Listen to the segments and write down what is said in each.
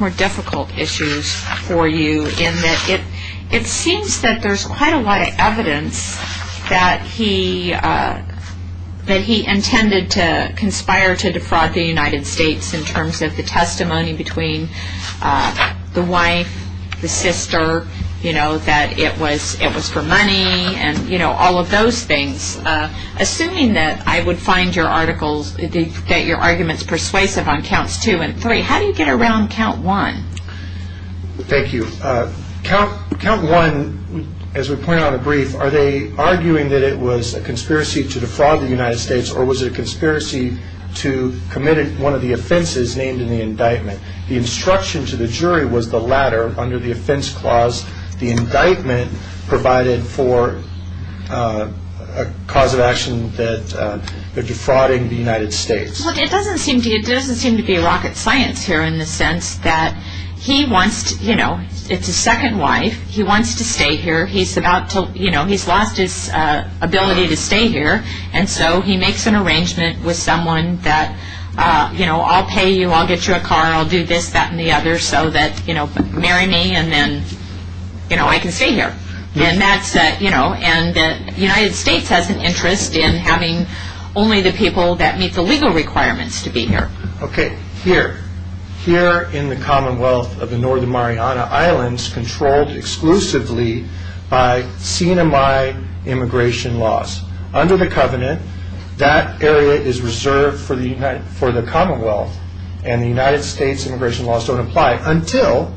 More difficult issues for you in that it seems that there's quite a lot of evidence that he intended to conspire to defraud the United States in terms of the testimony between the wife, the sister, that it was for money, and all of those things. Assuming that I would find your arguments persuasive on counts two and three, how do you get around count one? Thank you. Count one, as we pointed out in the brief, are they arguing that it was a conspiracy to defraud the United States or was it a conspiracy to commit one of the offenses named in the indictment? The instruction to the jury was the latter. Under the offense clause, the indictment provided for a cause of action that defrauding the United States. It doesn't seem to be rocket science here in the sense that he wants, you know, it's his second wife. He wants to stay here. He's about to, you know, he's lost his ability to stay here. And so he makes an arrangement with someone that, you know, I'll pay you, I'll get you a car, I'll do this, that, and the other so that, you know, marry me and then, you know, I can stay here. And that's, you know, and the United States has an interest in having only the people that meet the legal requirements to be here. Okay. Here. Here in the Commonwealth of the Northern Mariana Islands, controlled exclusively by CNMI immigration laws. Under the covenant, that area is reserved for the Commonwealth and the United States immigration laws don't apply until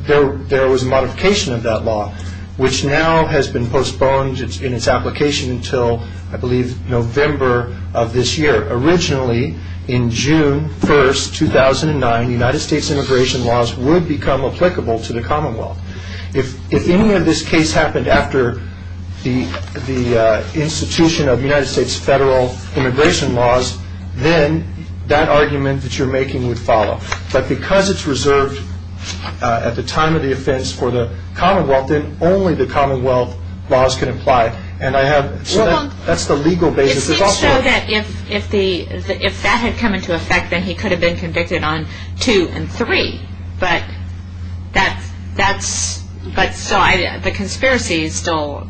there was a modification of that law, which now has been postponed in its application until, I believe, November of this year. Originally, in June 1st, 2009, United States immigration laws would become applicable to the Commonwealth. If any of this case happened after the institution of United States federal immigration laws, then that argument that you're making would follow. But because it's reserved at the time of the offense for the Commonwealth, then only the Commonwealth laws can apply. So that's the legal basis. It's just so that if that had come into effect, then he could have been convicted on two and three. But that's, the conspiracy is still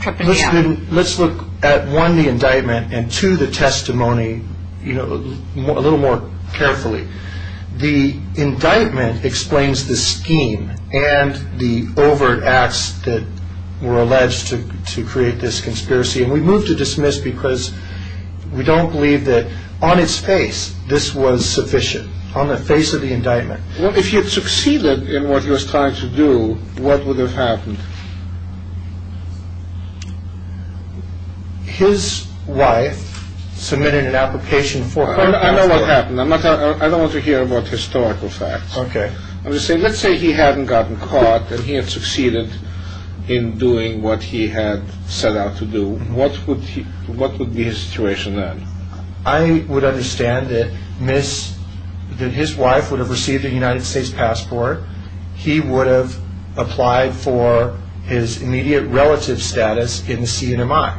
tripping me up. Let's look at, one, the indictment, and two, the testimony, you know, a little more carefully. The indictment explains the scheme and the overt acts that were alleged to create this conspiracy. And we move to dismiss because we don't believe that, on its face, this was sufficient. On the face of the indictment. Well, if you had succeeded in what he was trying to do, what would have happened? His wife submitted an application for her counsel. I know what happened. I don't want to hear about historical facts. Let's say he hadn't gotten caught and he had succeeded in doing what he had set out to do. What would be his situation then? I would understand that his wife would have received a United States passport. He would have applied for his immediate relative status in the CNMI,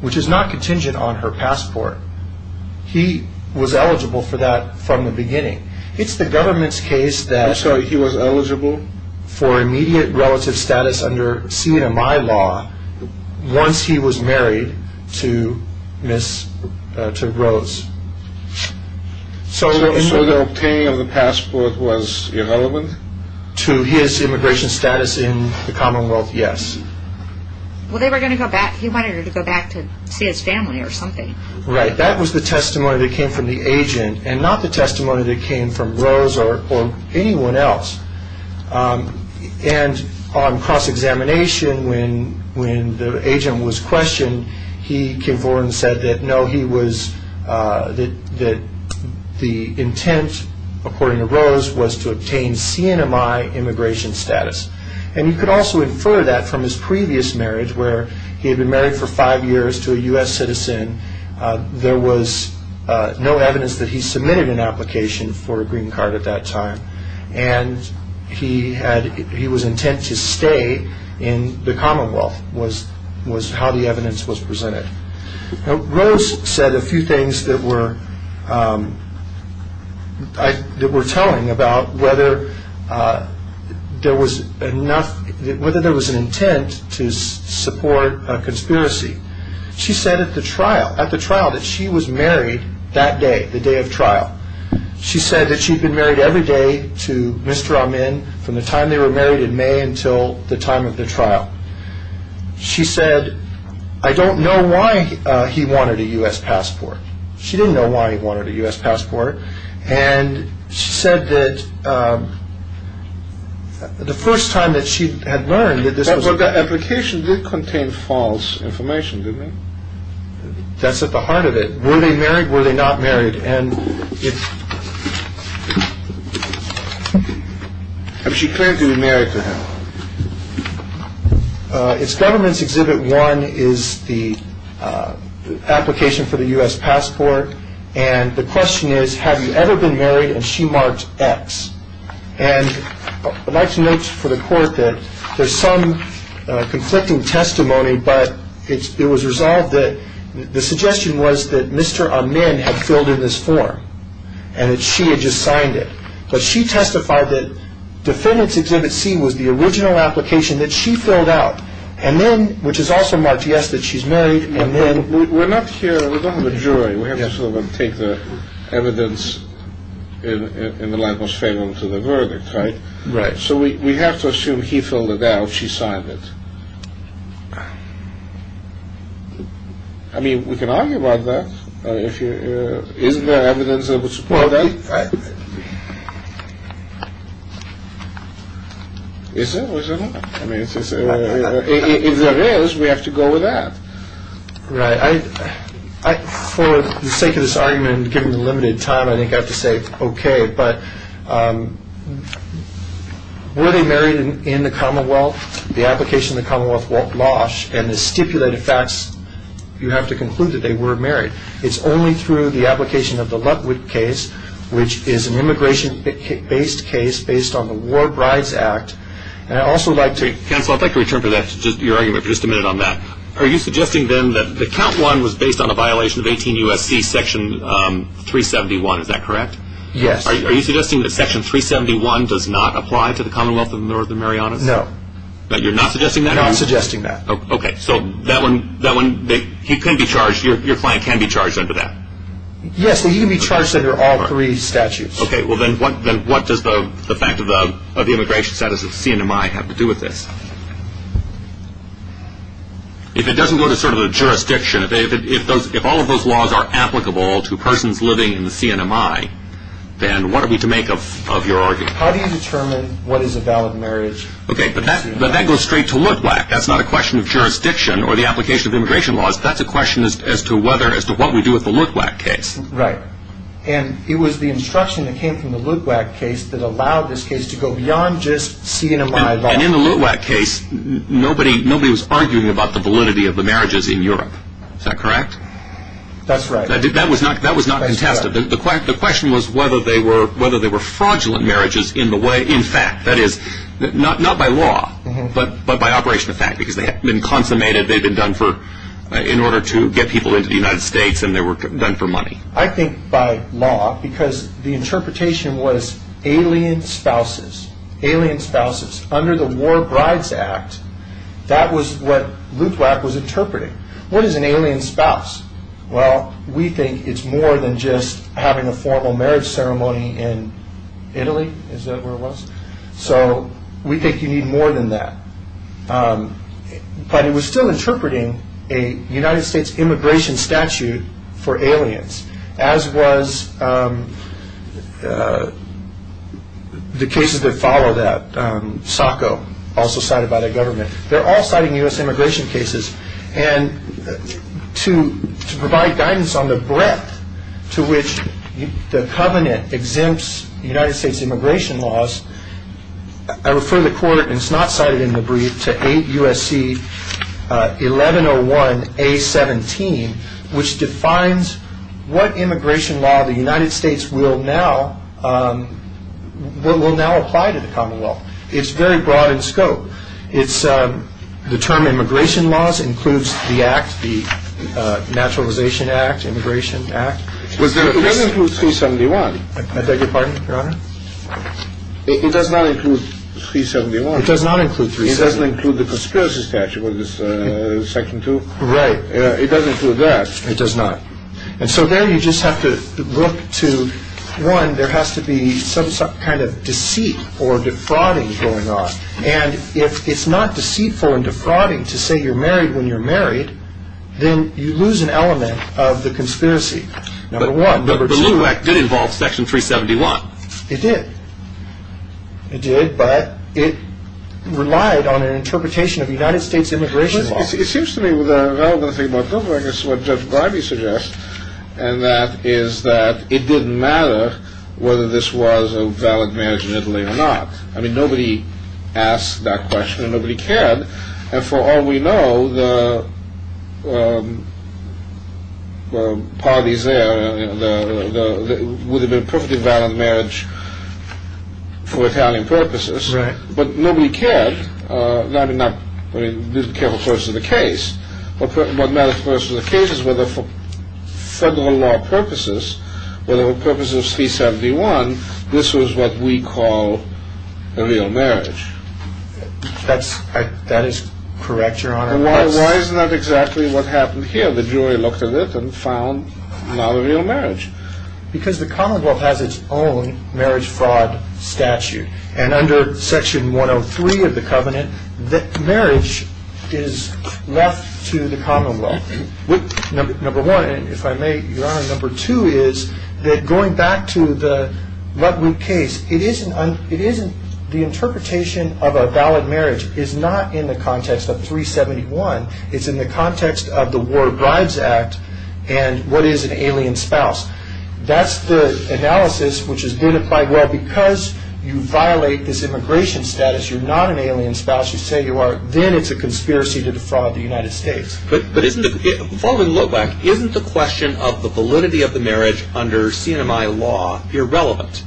which is not contingent on her passport. He was eligible for that from the beginning. It's the government's case that... So he was eligible? For immediate relative status under CNMI law once he was married to Rose. So the obtaining of the passport was irrelevant? To his immigration status in the Commonwealth, yes. Well, he wanted her to go back to see his family or something. Right. That was the testimony that came from the agent and not the testimony that came from Rose or anyone else. And on cross-examination, when the agent was questioned, he came forward and said that no, he was... that the intent, according to Rose, was to obtain CNMI immigration status. And you could also infer that from his previous marriage where he had been married for five years to a U.S. citizen. There was no evidence that he submitted an application for a green card at that time. And he was intent to stay in the Commonwealth was how the evidence was presented. Rose said a few things that were telling about whether there was an intent to support a conspiracy. She said at the trial that she was married that day, the day of trial. She said that she'd been married every day to Mr. Amin from the time they were married in May until the time of the trial. She said, I don't know why he wanted a U.S. passport. She didn't know why he wanted a U.S. passport. And she said that the first time that she had learned that this was... But the application did contain false information, didn't it? That's at the heart of it. Were they married? Were they not married? And it's... Have she claimed to be married to him? It's government's Exhibit 1 is the application for the U.S. passport. And the question is, have you ever been married? And she marked X. And I'd like to note for the court that there's some conflicting testimony. But it was resolved that the suggestion was that Mr. Amin had filled in this form. And that she had just signed it. But she testified that defendant's Exhibit C was the original application that she filled out. And then, which is also marked yes, that she's married, and then... We're not here... We don't have a jury. We have to sort of take the evidence in the Lankos Fable into the verdict, right? Right. So we have to assume he filled it out, she signed it. I mean, we can argue about that. Isn't there evidence that would support that? Is there or is there not? If there is, we have to go with that. Right. For the sake of this argument, given the limited time, I think I have to say it's okay. But were they married in the Commonwealth? The application in the Commonwealth won't blush. And the stipulated facts, you have to conclude that they were married. It's only through the application of the Lutwit case, which is an immigration-based case based on the War Brides Act. And I'd also like to... Counsel, I'd like to return to your argument for just a minute on that. Are you suggesting then that the Count 1 was based on a violation of 18 U.S.C. Section 371? Is that correct? Yes. Are you suggesting that Section 371 does not apply to the Commonwealth of Northern Marianas? No. You're not suggesting that? I'm not suggesting that. Okay. So that one, he can be charged, your client can be charged under that? Yes. He can be charged under all three statutes. Okay. Well, then what does the fact of the immigration status of the CNMI have to do with this? If it doesn't go to sort of the jurisdiction, if all of those laws are applicable to persons living in the CNMI, then what are we to make of your argument? How do you determine what is a valid marriage? Okay, but that goes straight to Lutwak. That's not a question of jurisdiction or the application of immigration laws. That's a question as to what we do with the Lutwak case. Right. And it was the instruction that came from the Lutwak case that allowed this case to go beyond just CNMI law. And in the Lutwak case, nobody was arguing about the validity of the marriages in Europe. Is that correct? That's right. That was not contested. The question was whether they were fraudulent marriages in fact. That is, not by law, but by operation of fact, because they had been consummated in order to get people into the United States, and they were done for money. I think by law, because the interpretation was alien spouses, alien spouses under the War Brides Act, that was what Lutwak was interpreting. What is an alien spouse? Well, we think it's more than just having a formal marriage ceremony in Italy. Is that where it was? So we think you need more than that. But it was still interpreting a United States immigration statute for aliens, as was the cases that follow that, SOCO, also cited by the government. They're all citing U.S. immigration cases. And to provide guidance on the breadth to which the covenant exempts United States immigration laws, I refer the Court, and it's not cited in the brief, to 8 U.S.C. 1101A17, which defines what immigration law the United States will now apply to the Commonwealth. It's very broad in scope. The term immigration laws includes the Act, the Naturalization Act, Immigration Act. It doesn't include 371. I beg your pardon, Your Honor? It does not include 371. It does not include 371. It doesn't include the Conspiracy Statute, Section 2. Right. It doesn't include that. It does not. And so then you just have to look to, one, there has to be some kind of deceit or defrauding going on. And if it's not deceitful and defrauding to say you're married when you're married, then you lose an element of the conspiracy. Number one. Number two. But the LUBAC did involve Section 371. It did. It did, but it relied on an interpretation of United States immigration laws. It seems to me the relevant thing about LUBAC is what Judge Briby suggests, and that is that it didn't matter whether this was a valid marriage in Italy or not. I mean, nobody asked that question and nobody cared. And for all we know, the parties there would have been perfectly valid marriage for Italian purposes. Right. But nobody cared. I mean, not careful person of the case. What matters to the person of the case is whether for federal law purposes, whether for purposes of C-71, this was what we call a real marriage. That is correct, Your Honor. Why is that exactly what happened here? The jury looked at it and found not a real marriage. Because the Commonwealth has its own marriage fraud statute. And under Section 103 of the Covenant, marriage is left to the Commonwealth. Number one, if I may, Your Honor, number two is that going back to the Ludwig case, the interpretation of a valid marriage is not in the context of 371. It's in the context of the War of Brides Act and what is an alien spouse. That's the analysis which has been applied. Well, because you violate this immigration status, you're not an alien spouse, you say you are, then it's a conspiracy to defraud the United States. But isn't the question of the validity of the marriage under CNMI law irrelevant?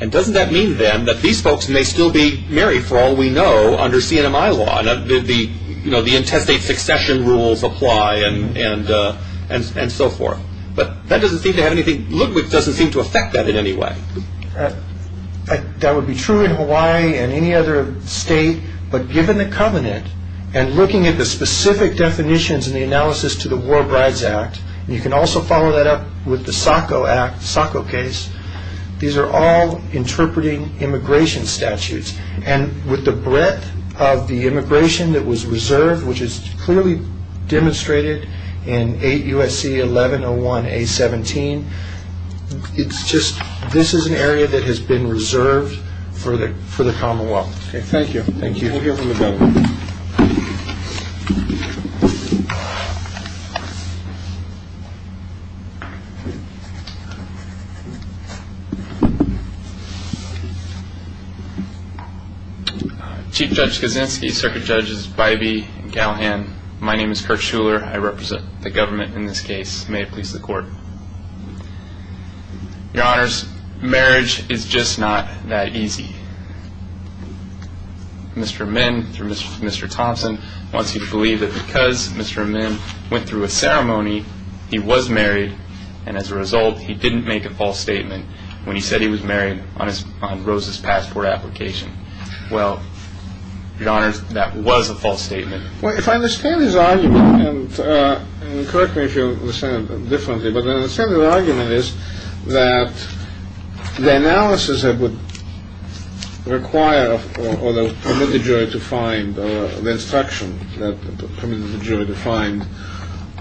And doesn't that mean, then, that these folks may still be married, for all we know, under CNMI law? You know, the intestate succession rules apply and so forth. But Ludwig doesn't seem to affect that in any way. That would be true in Hawaii and any other state. But given the Covenant and looking at the specific definitions in the analysis to the War of Brides Act, you can also follow that up with the Sacco case. These are all interpreting immigration statutes. And with the breadth of the immigration that was reserved, which is clearly demonstrated in 8 U.S.C. 1101A17, it's just this is an area that has been reserved for the Commonwealth. Okay, thank you. Thank you. Chief Judge Kaczynski, Circuit Judges Bybee and Galhan, my name is Kurt Shuler. I represent the government in this case. May it please the Court. Your Honors, marriage is just not that easy. Mr. Amin, through Mr. Thompson, wants you to believe that because Mr. Amin went through a ceremony, he was married and as a result he didn't make a false statement when he said he was married on Rose's passport application. Well, Your Honors, that was a false statement. Well, if I understand his argument, and correct me if you understand it differently, but I understand his argument is that the analysis that would require or permit the jury to find, or the instruction that permitted the jury to find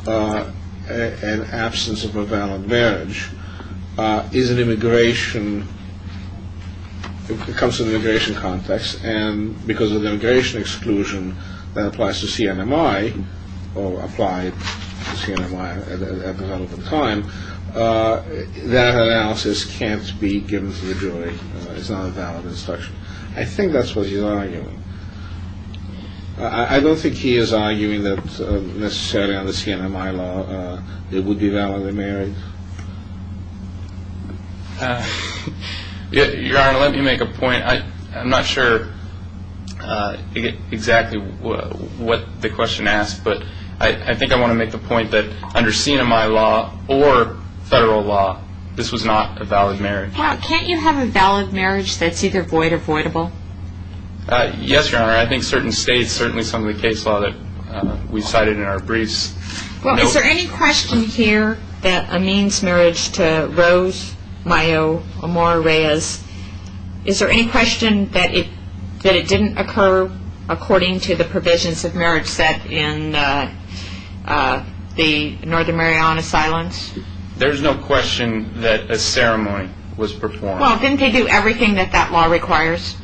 an absence of a valid marriage is an immigration, it comes from the immigration context, and because of the immigration exclusion that applies to CNMI, or applied to CNMI at the time, that analysis can't be given to the jury. It's not a valid instruction. I don't think he is arguing that necessarily under CNMI law it would be validly married. Your Honor, let me make a point. I'm not sure exactly what the question asks, but I think I want to make the point that under CNMI law or federal law, this was not a valid marriage. Mr. Powell, can't you have a valid marriage that's either void or voidable? Yes, Your Honor. I think certain states, certainly some of the case law that we cited in our briefs. Well, is there any question here that amends marriage to Rose Mayo Amora Reyes? Is there any question that it didn't occur according to the provisions of marriage set in the Northern Mariana Asylums? There's no question that a ceremony was performed. Well, didn't they do everything that that law requires?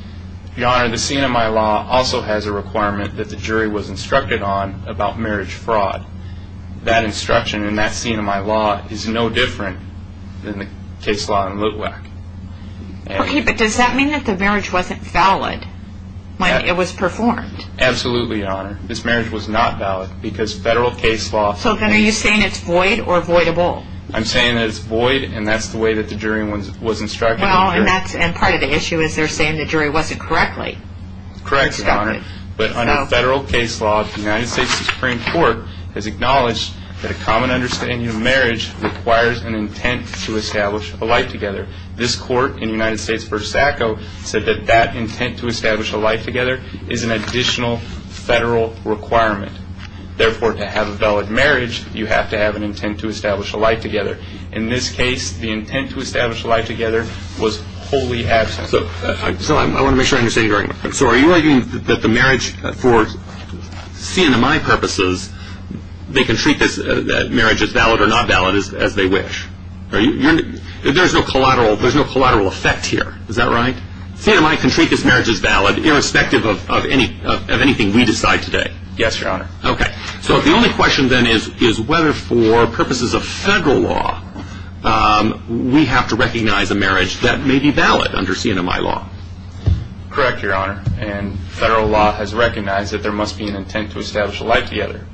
Your Honor, the CNMI law also has a requirement that the jury was instructed on about marriage fraud. That instruction in that CNMI law is no different than the case law in Litwack. Okay, but does that mean that the marriage wasn't valid when it was performed? Absolutely, Your Honor. This marriage was not valid because federal case law... So then are you saying it's void or voidable? I'm saying that it's void, and that's the way that the jury was instructed. Well, and part of the issue is they're saying the jury wasn't correctly instructed. Correct, Your Honor. But under federal case law, the United States Supreme Court has acknowledged that a common understanding of marriage requires an intent to establish a life together. This court in United States v. SACO said that that intent to establish a life together is an additional federal requirement. Therefore, to have a valid marriage, you have to have an intent to establish a life together. In this case, the intent to establish a life together was wholly absent. So I want to make sure I understand you correctly. So are you arguing that the marriage for CNMI purposes, they can treat this marriage as valid or not valid as they wish? There's no collateral effect here. Is that right? CNMI can treat this marriage as valid irrespective of anything we decide today. Yes, Your Honor. Okay. So the only question then is whether for purposes of federal law, we have to recognize a marriage that may be valid under CNMI law. Correct, Your Honor. And federal law has recognized that there must be an intent to establish a life together.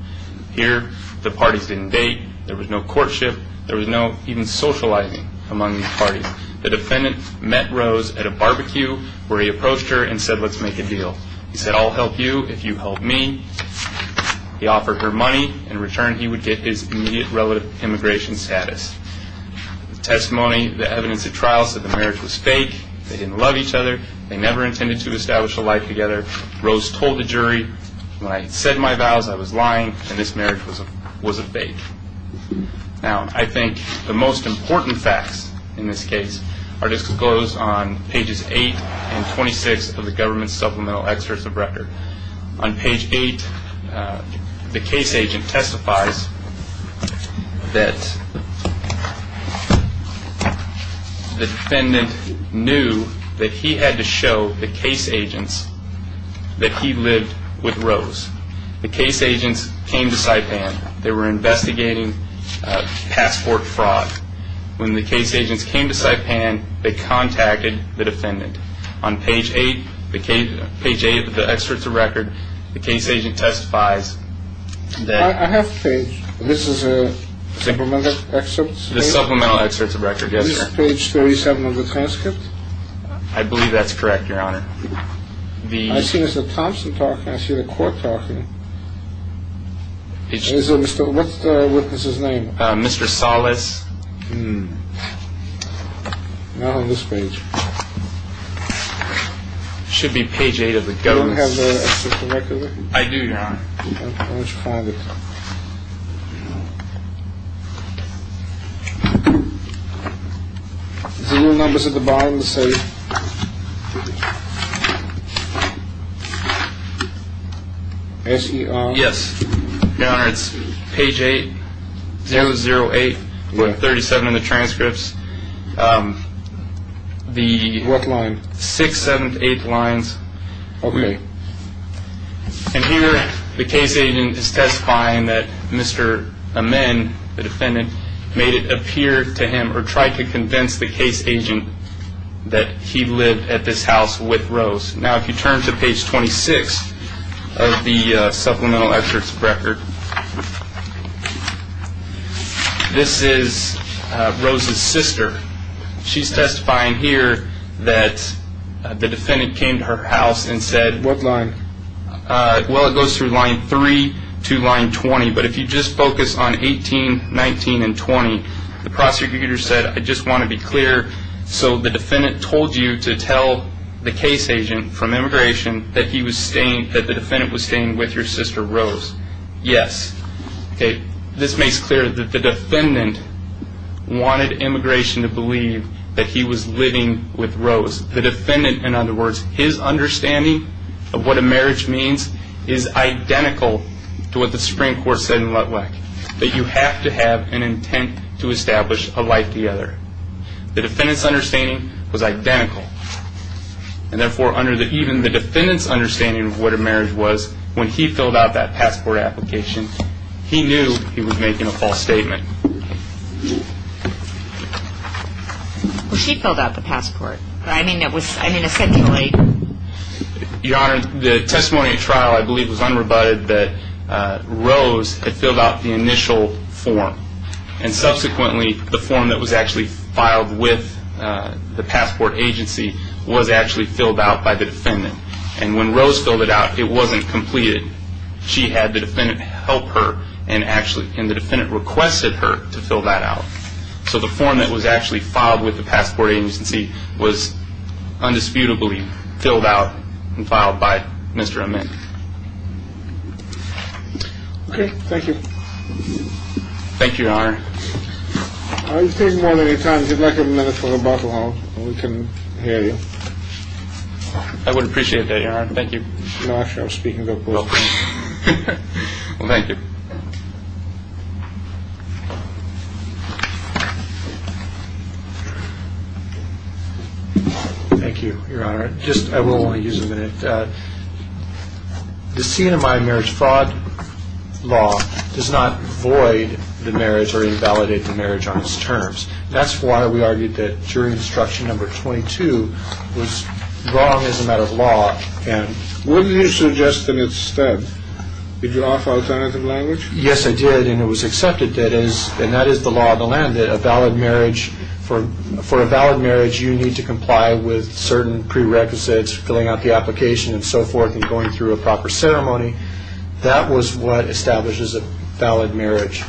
Here, the parties didn't date. There was no courtship. There was no even socializing among the parties. The defendant met Rose at a barbecue where he approached her and said, let's make a deal. He said, I'll help you if you help me. He offered her money. In return, he would get his immediate relative immigration status. The testimony, the evidence at trial said the marriage was fake. They didn't love each other. They never intended to establish a life together. Rose told the jury, when I said my vows, I was lying, and this marriage was a fake. Now, I think the most important facts in this case are disclosed on pages 8 and 26 of the government's supplemental excerpt of record. On page 8, the case agent testifies that the defendant knew that he had to show the case agents that he lived with Rose. The case agents came to Saipan. They were investigating passport fraud. When the case agents came to Saipan, they contacted the defendant. On page 8 of the excerpt of record, the case agent testifies that the defendant knew that he lived with Rose. I have a page. This is a supplemental excerpt? The supplemental excerpt of record, yes, sir. Is this page 37 of the transcript? I believe that's correct, Your Honor. I see there's a Thompson talking. I see the court talking. What's the witness's name? Mr. Salas. Not on this page. It should be page 8 of the government's. Do you have the excerpt of record? I do, Your Honor. Why don't you find it? No. Is the real numbers at the bottom of the safe? Yes, Your Honor. It's page 8, 008, 37 in the transcripts. What line? Sixth, seventh, eighth lines. Okay. And here the case agent is testifying that Mr. Amin, the defendant, made it appear to him or tried to convince the case agent that he lived at this house with Rose. Now, if you turn to page 26 of the supplemental excerpt of record, this is Rose's sister. She's testifying here that the defendant came to her house and said? What line? Well, it goes through line 3 to line 20, but if you just focus on 18, 19, and 20, the prosecutor said, I just want to be clear. So the defendant told you to tell the case agent from immigration that he was staying, that the defendant was staying with your sister Rose? Yes. Okay. This makes clear that the defendant wanted immigration to believe that he was living with Rose. In other words, the defendant, in other words, his understanding of what a marriage means is identical to what the Supreme Court said in Lutwick, that you have to have an intent to establish a life together. The defendant's understanding was identical. And therefore, even the defendant's understanding of what a marriage was, when he filled out that passport application, he knew he was making a false statement. Well, she filled out the passport. I mean, it was essentially? Your Honor, the testimony at trial, I believe, was unrebutted that Rose had filled out the initial form. And subsequently, the form that was actually filed with the passport agency was actually filled out by the defendant. And when Rose filled it out, it wasn't completed. She had the defendant help her, and the defendant requested her to fill that out. So the form that was actually filed with the passport agency was undisputably filled out and filed by Mr. Amin. Okay. Thank you. Thank you, Your Honor. All right. You've taken more than your time. If you'd like a minute for rebuttal, we can hear you. I would appreciate that, Your Honor. Thank you. I'm not sure I'm speaking to a person. Well, thank you. Thank you, Your Honor. I will only use a minute. The CNMI marriage fraud law does not void the marriage or invalidate the marriage on its terms. That's why we argued that jury instruction number 22 was wrong as a matter of law and wouldn't you suggest in its stead that you offer alternative language? Yes, I did, and it was accepted, and that is the law of the land, that for a valid marriage you need to comply with certain prerequisites, filling out the application and so forth and going through a proper ceremony. That was what establishes a valid marriage,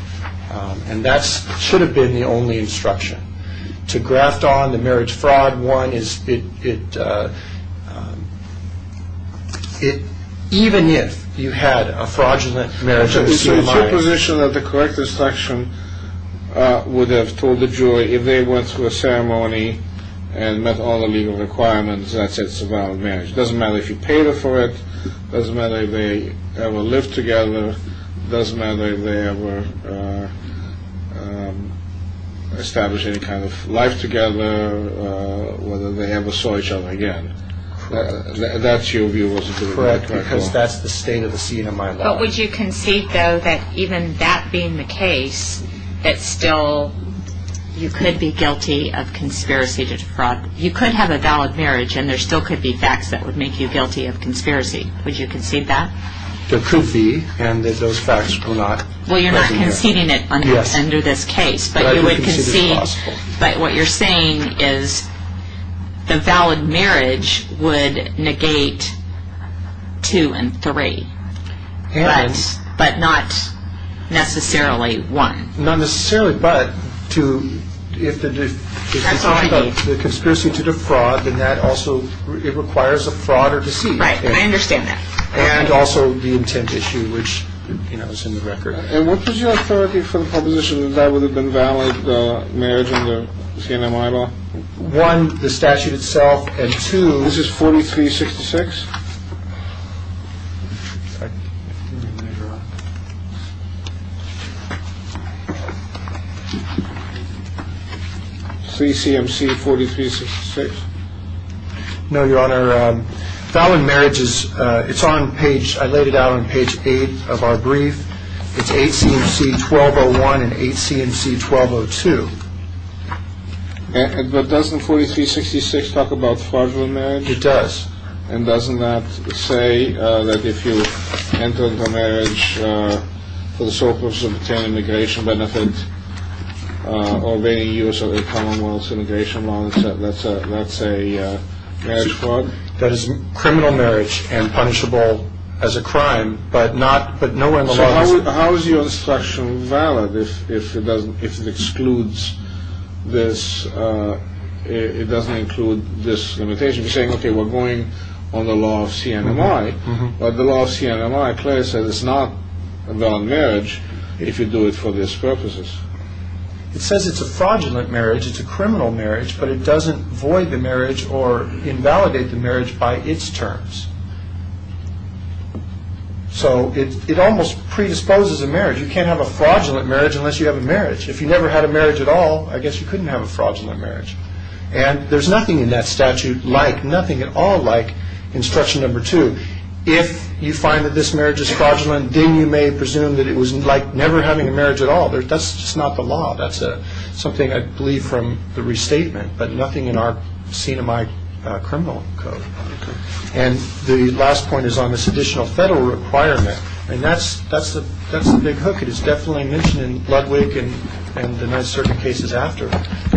and that should have been the only instruction. To graft on the marriage fraud one is it even if you had a fraudulent marriage. It's your position that the correct instruction would have told the jury if they went through a ceremony and met all the legal requirements, that's a valid marriage. It doesn't matter if you paid for it. It doesn't matter if they ever lived together. It doesn't matter if they ever established any kind of life together, whether they ever saw each other again. That's your view as a juror. Correct, because that's the state of the CNMI law. But would you concede, though, that even that being the case, that still you could be guilty of conspiracy to fraud. You could have a valid marriage, and there still could be facts that would make you guilty of conspiracy. Would you concede that? The proof be and that those facts were not. Well, you're not conceding it under this case, but you would concede. But what you're saying is the valid marriage would negate two and three, but not necessarily one. Not necessarily, but if the conspiracy to defraud, then that also requires a fraud or deceit. Right, and I understand that. And also the intent issue, which, you know, is in the record. And what was your authority for the proposition that that would have been valid marriage in the CNMI law? One, the statute itself, and two. This is 4366. 3 CMC 4366. No, Your Honor. Valid marriage is on page, I laid it out on page eight of our brief. It's 8 CMC 1201 and 8 CMC 1202. But doesn't 4366 talk about fraudulent marriage? It does. And doesn't that say that if you enter into a marriage for the sole purpose of obtaining immigration benefit or making use of the Commonwealth's immigration law, that's a marriage fraud? That is criminal marriage and punishable as a crime, but no one saw this. So how is your instruction valid if it excludes this? It doesn't include this limitation. You're saying, okay, we're going on the law of CNMI, but the law of CNMI clearly says it's not a valid marriage if you do it for these purposes. It says it's a fraudulent marriage, it's a criminal marriage, but it doesn't void the marriage or invalidate the marriage by its terms. So it almost predisposes a marriage. You can't have a fraudulent marriage unless you have a marriage. If you never had a marriage at all, I guess you couldn't have a fraudulent marriage. And there's nothing in that statute like, nothing at all like instruction number two. If you find that this marriage is fraudulent, then you may presume that it was like never having a marriage at all. That's just not the law. That's something I believe from the restatement, but nothing in our CNMI criminal code. And the last point is on this additional federal requirement, and that's the big hook. It is definitely mentioned in Ludwig and the nine certain cases after,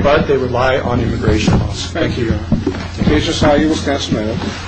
but they rely on immigration laws. Thank you.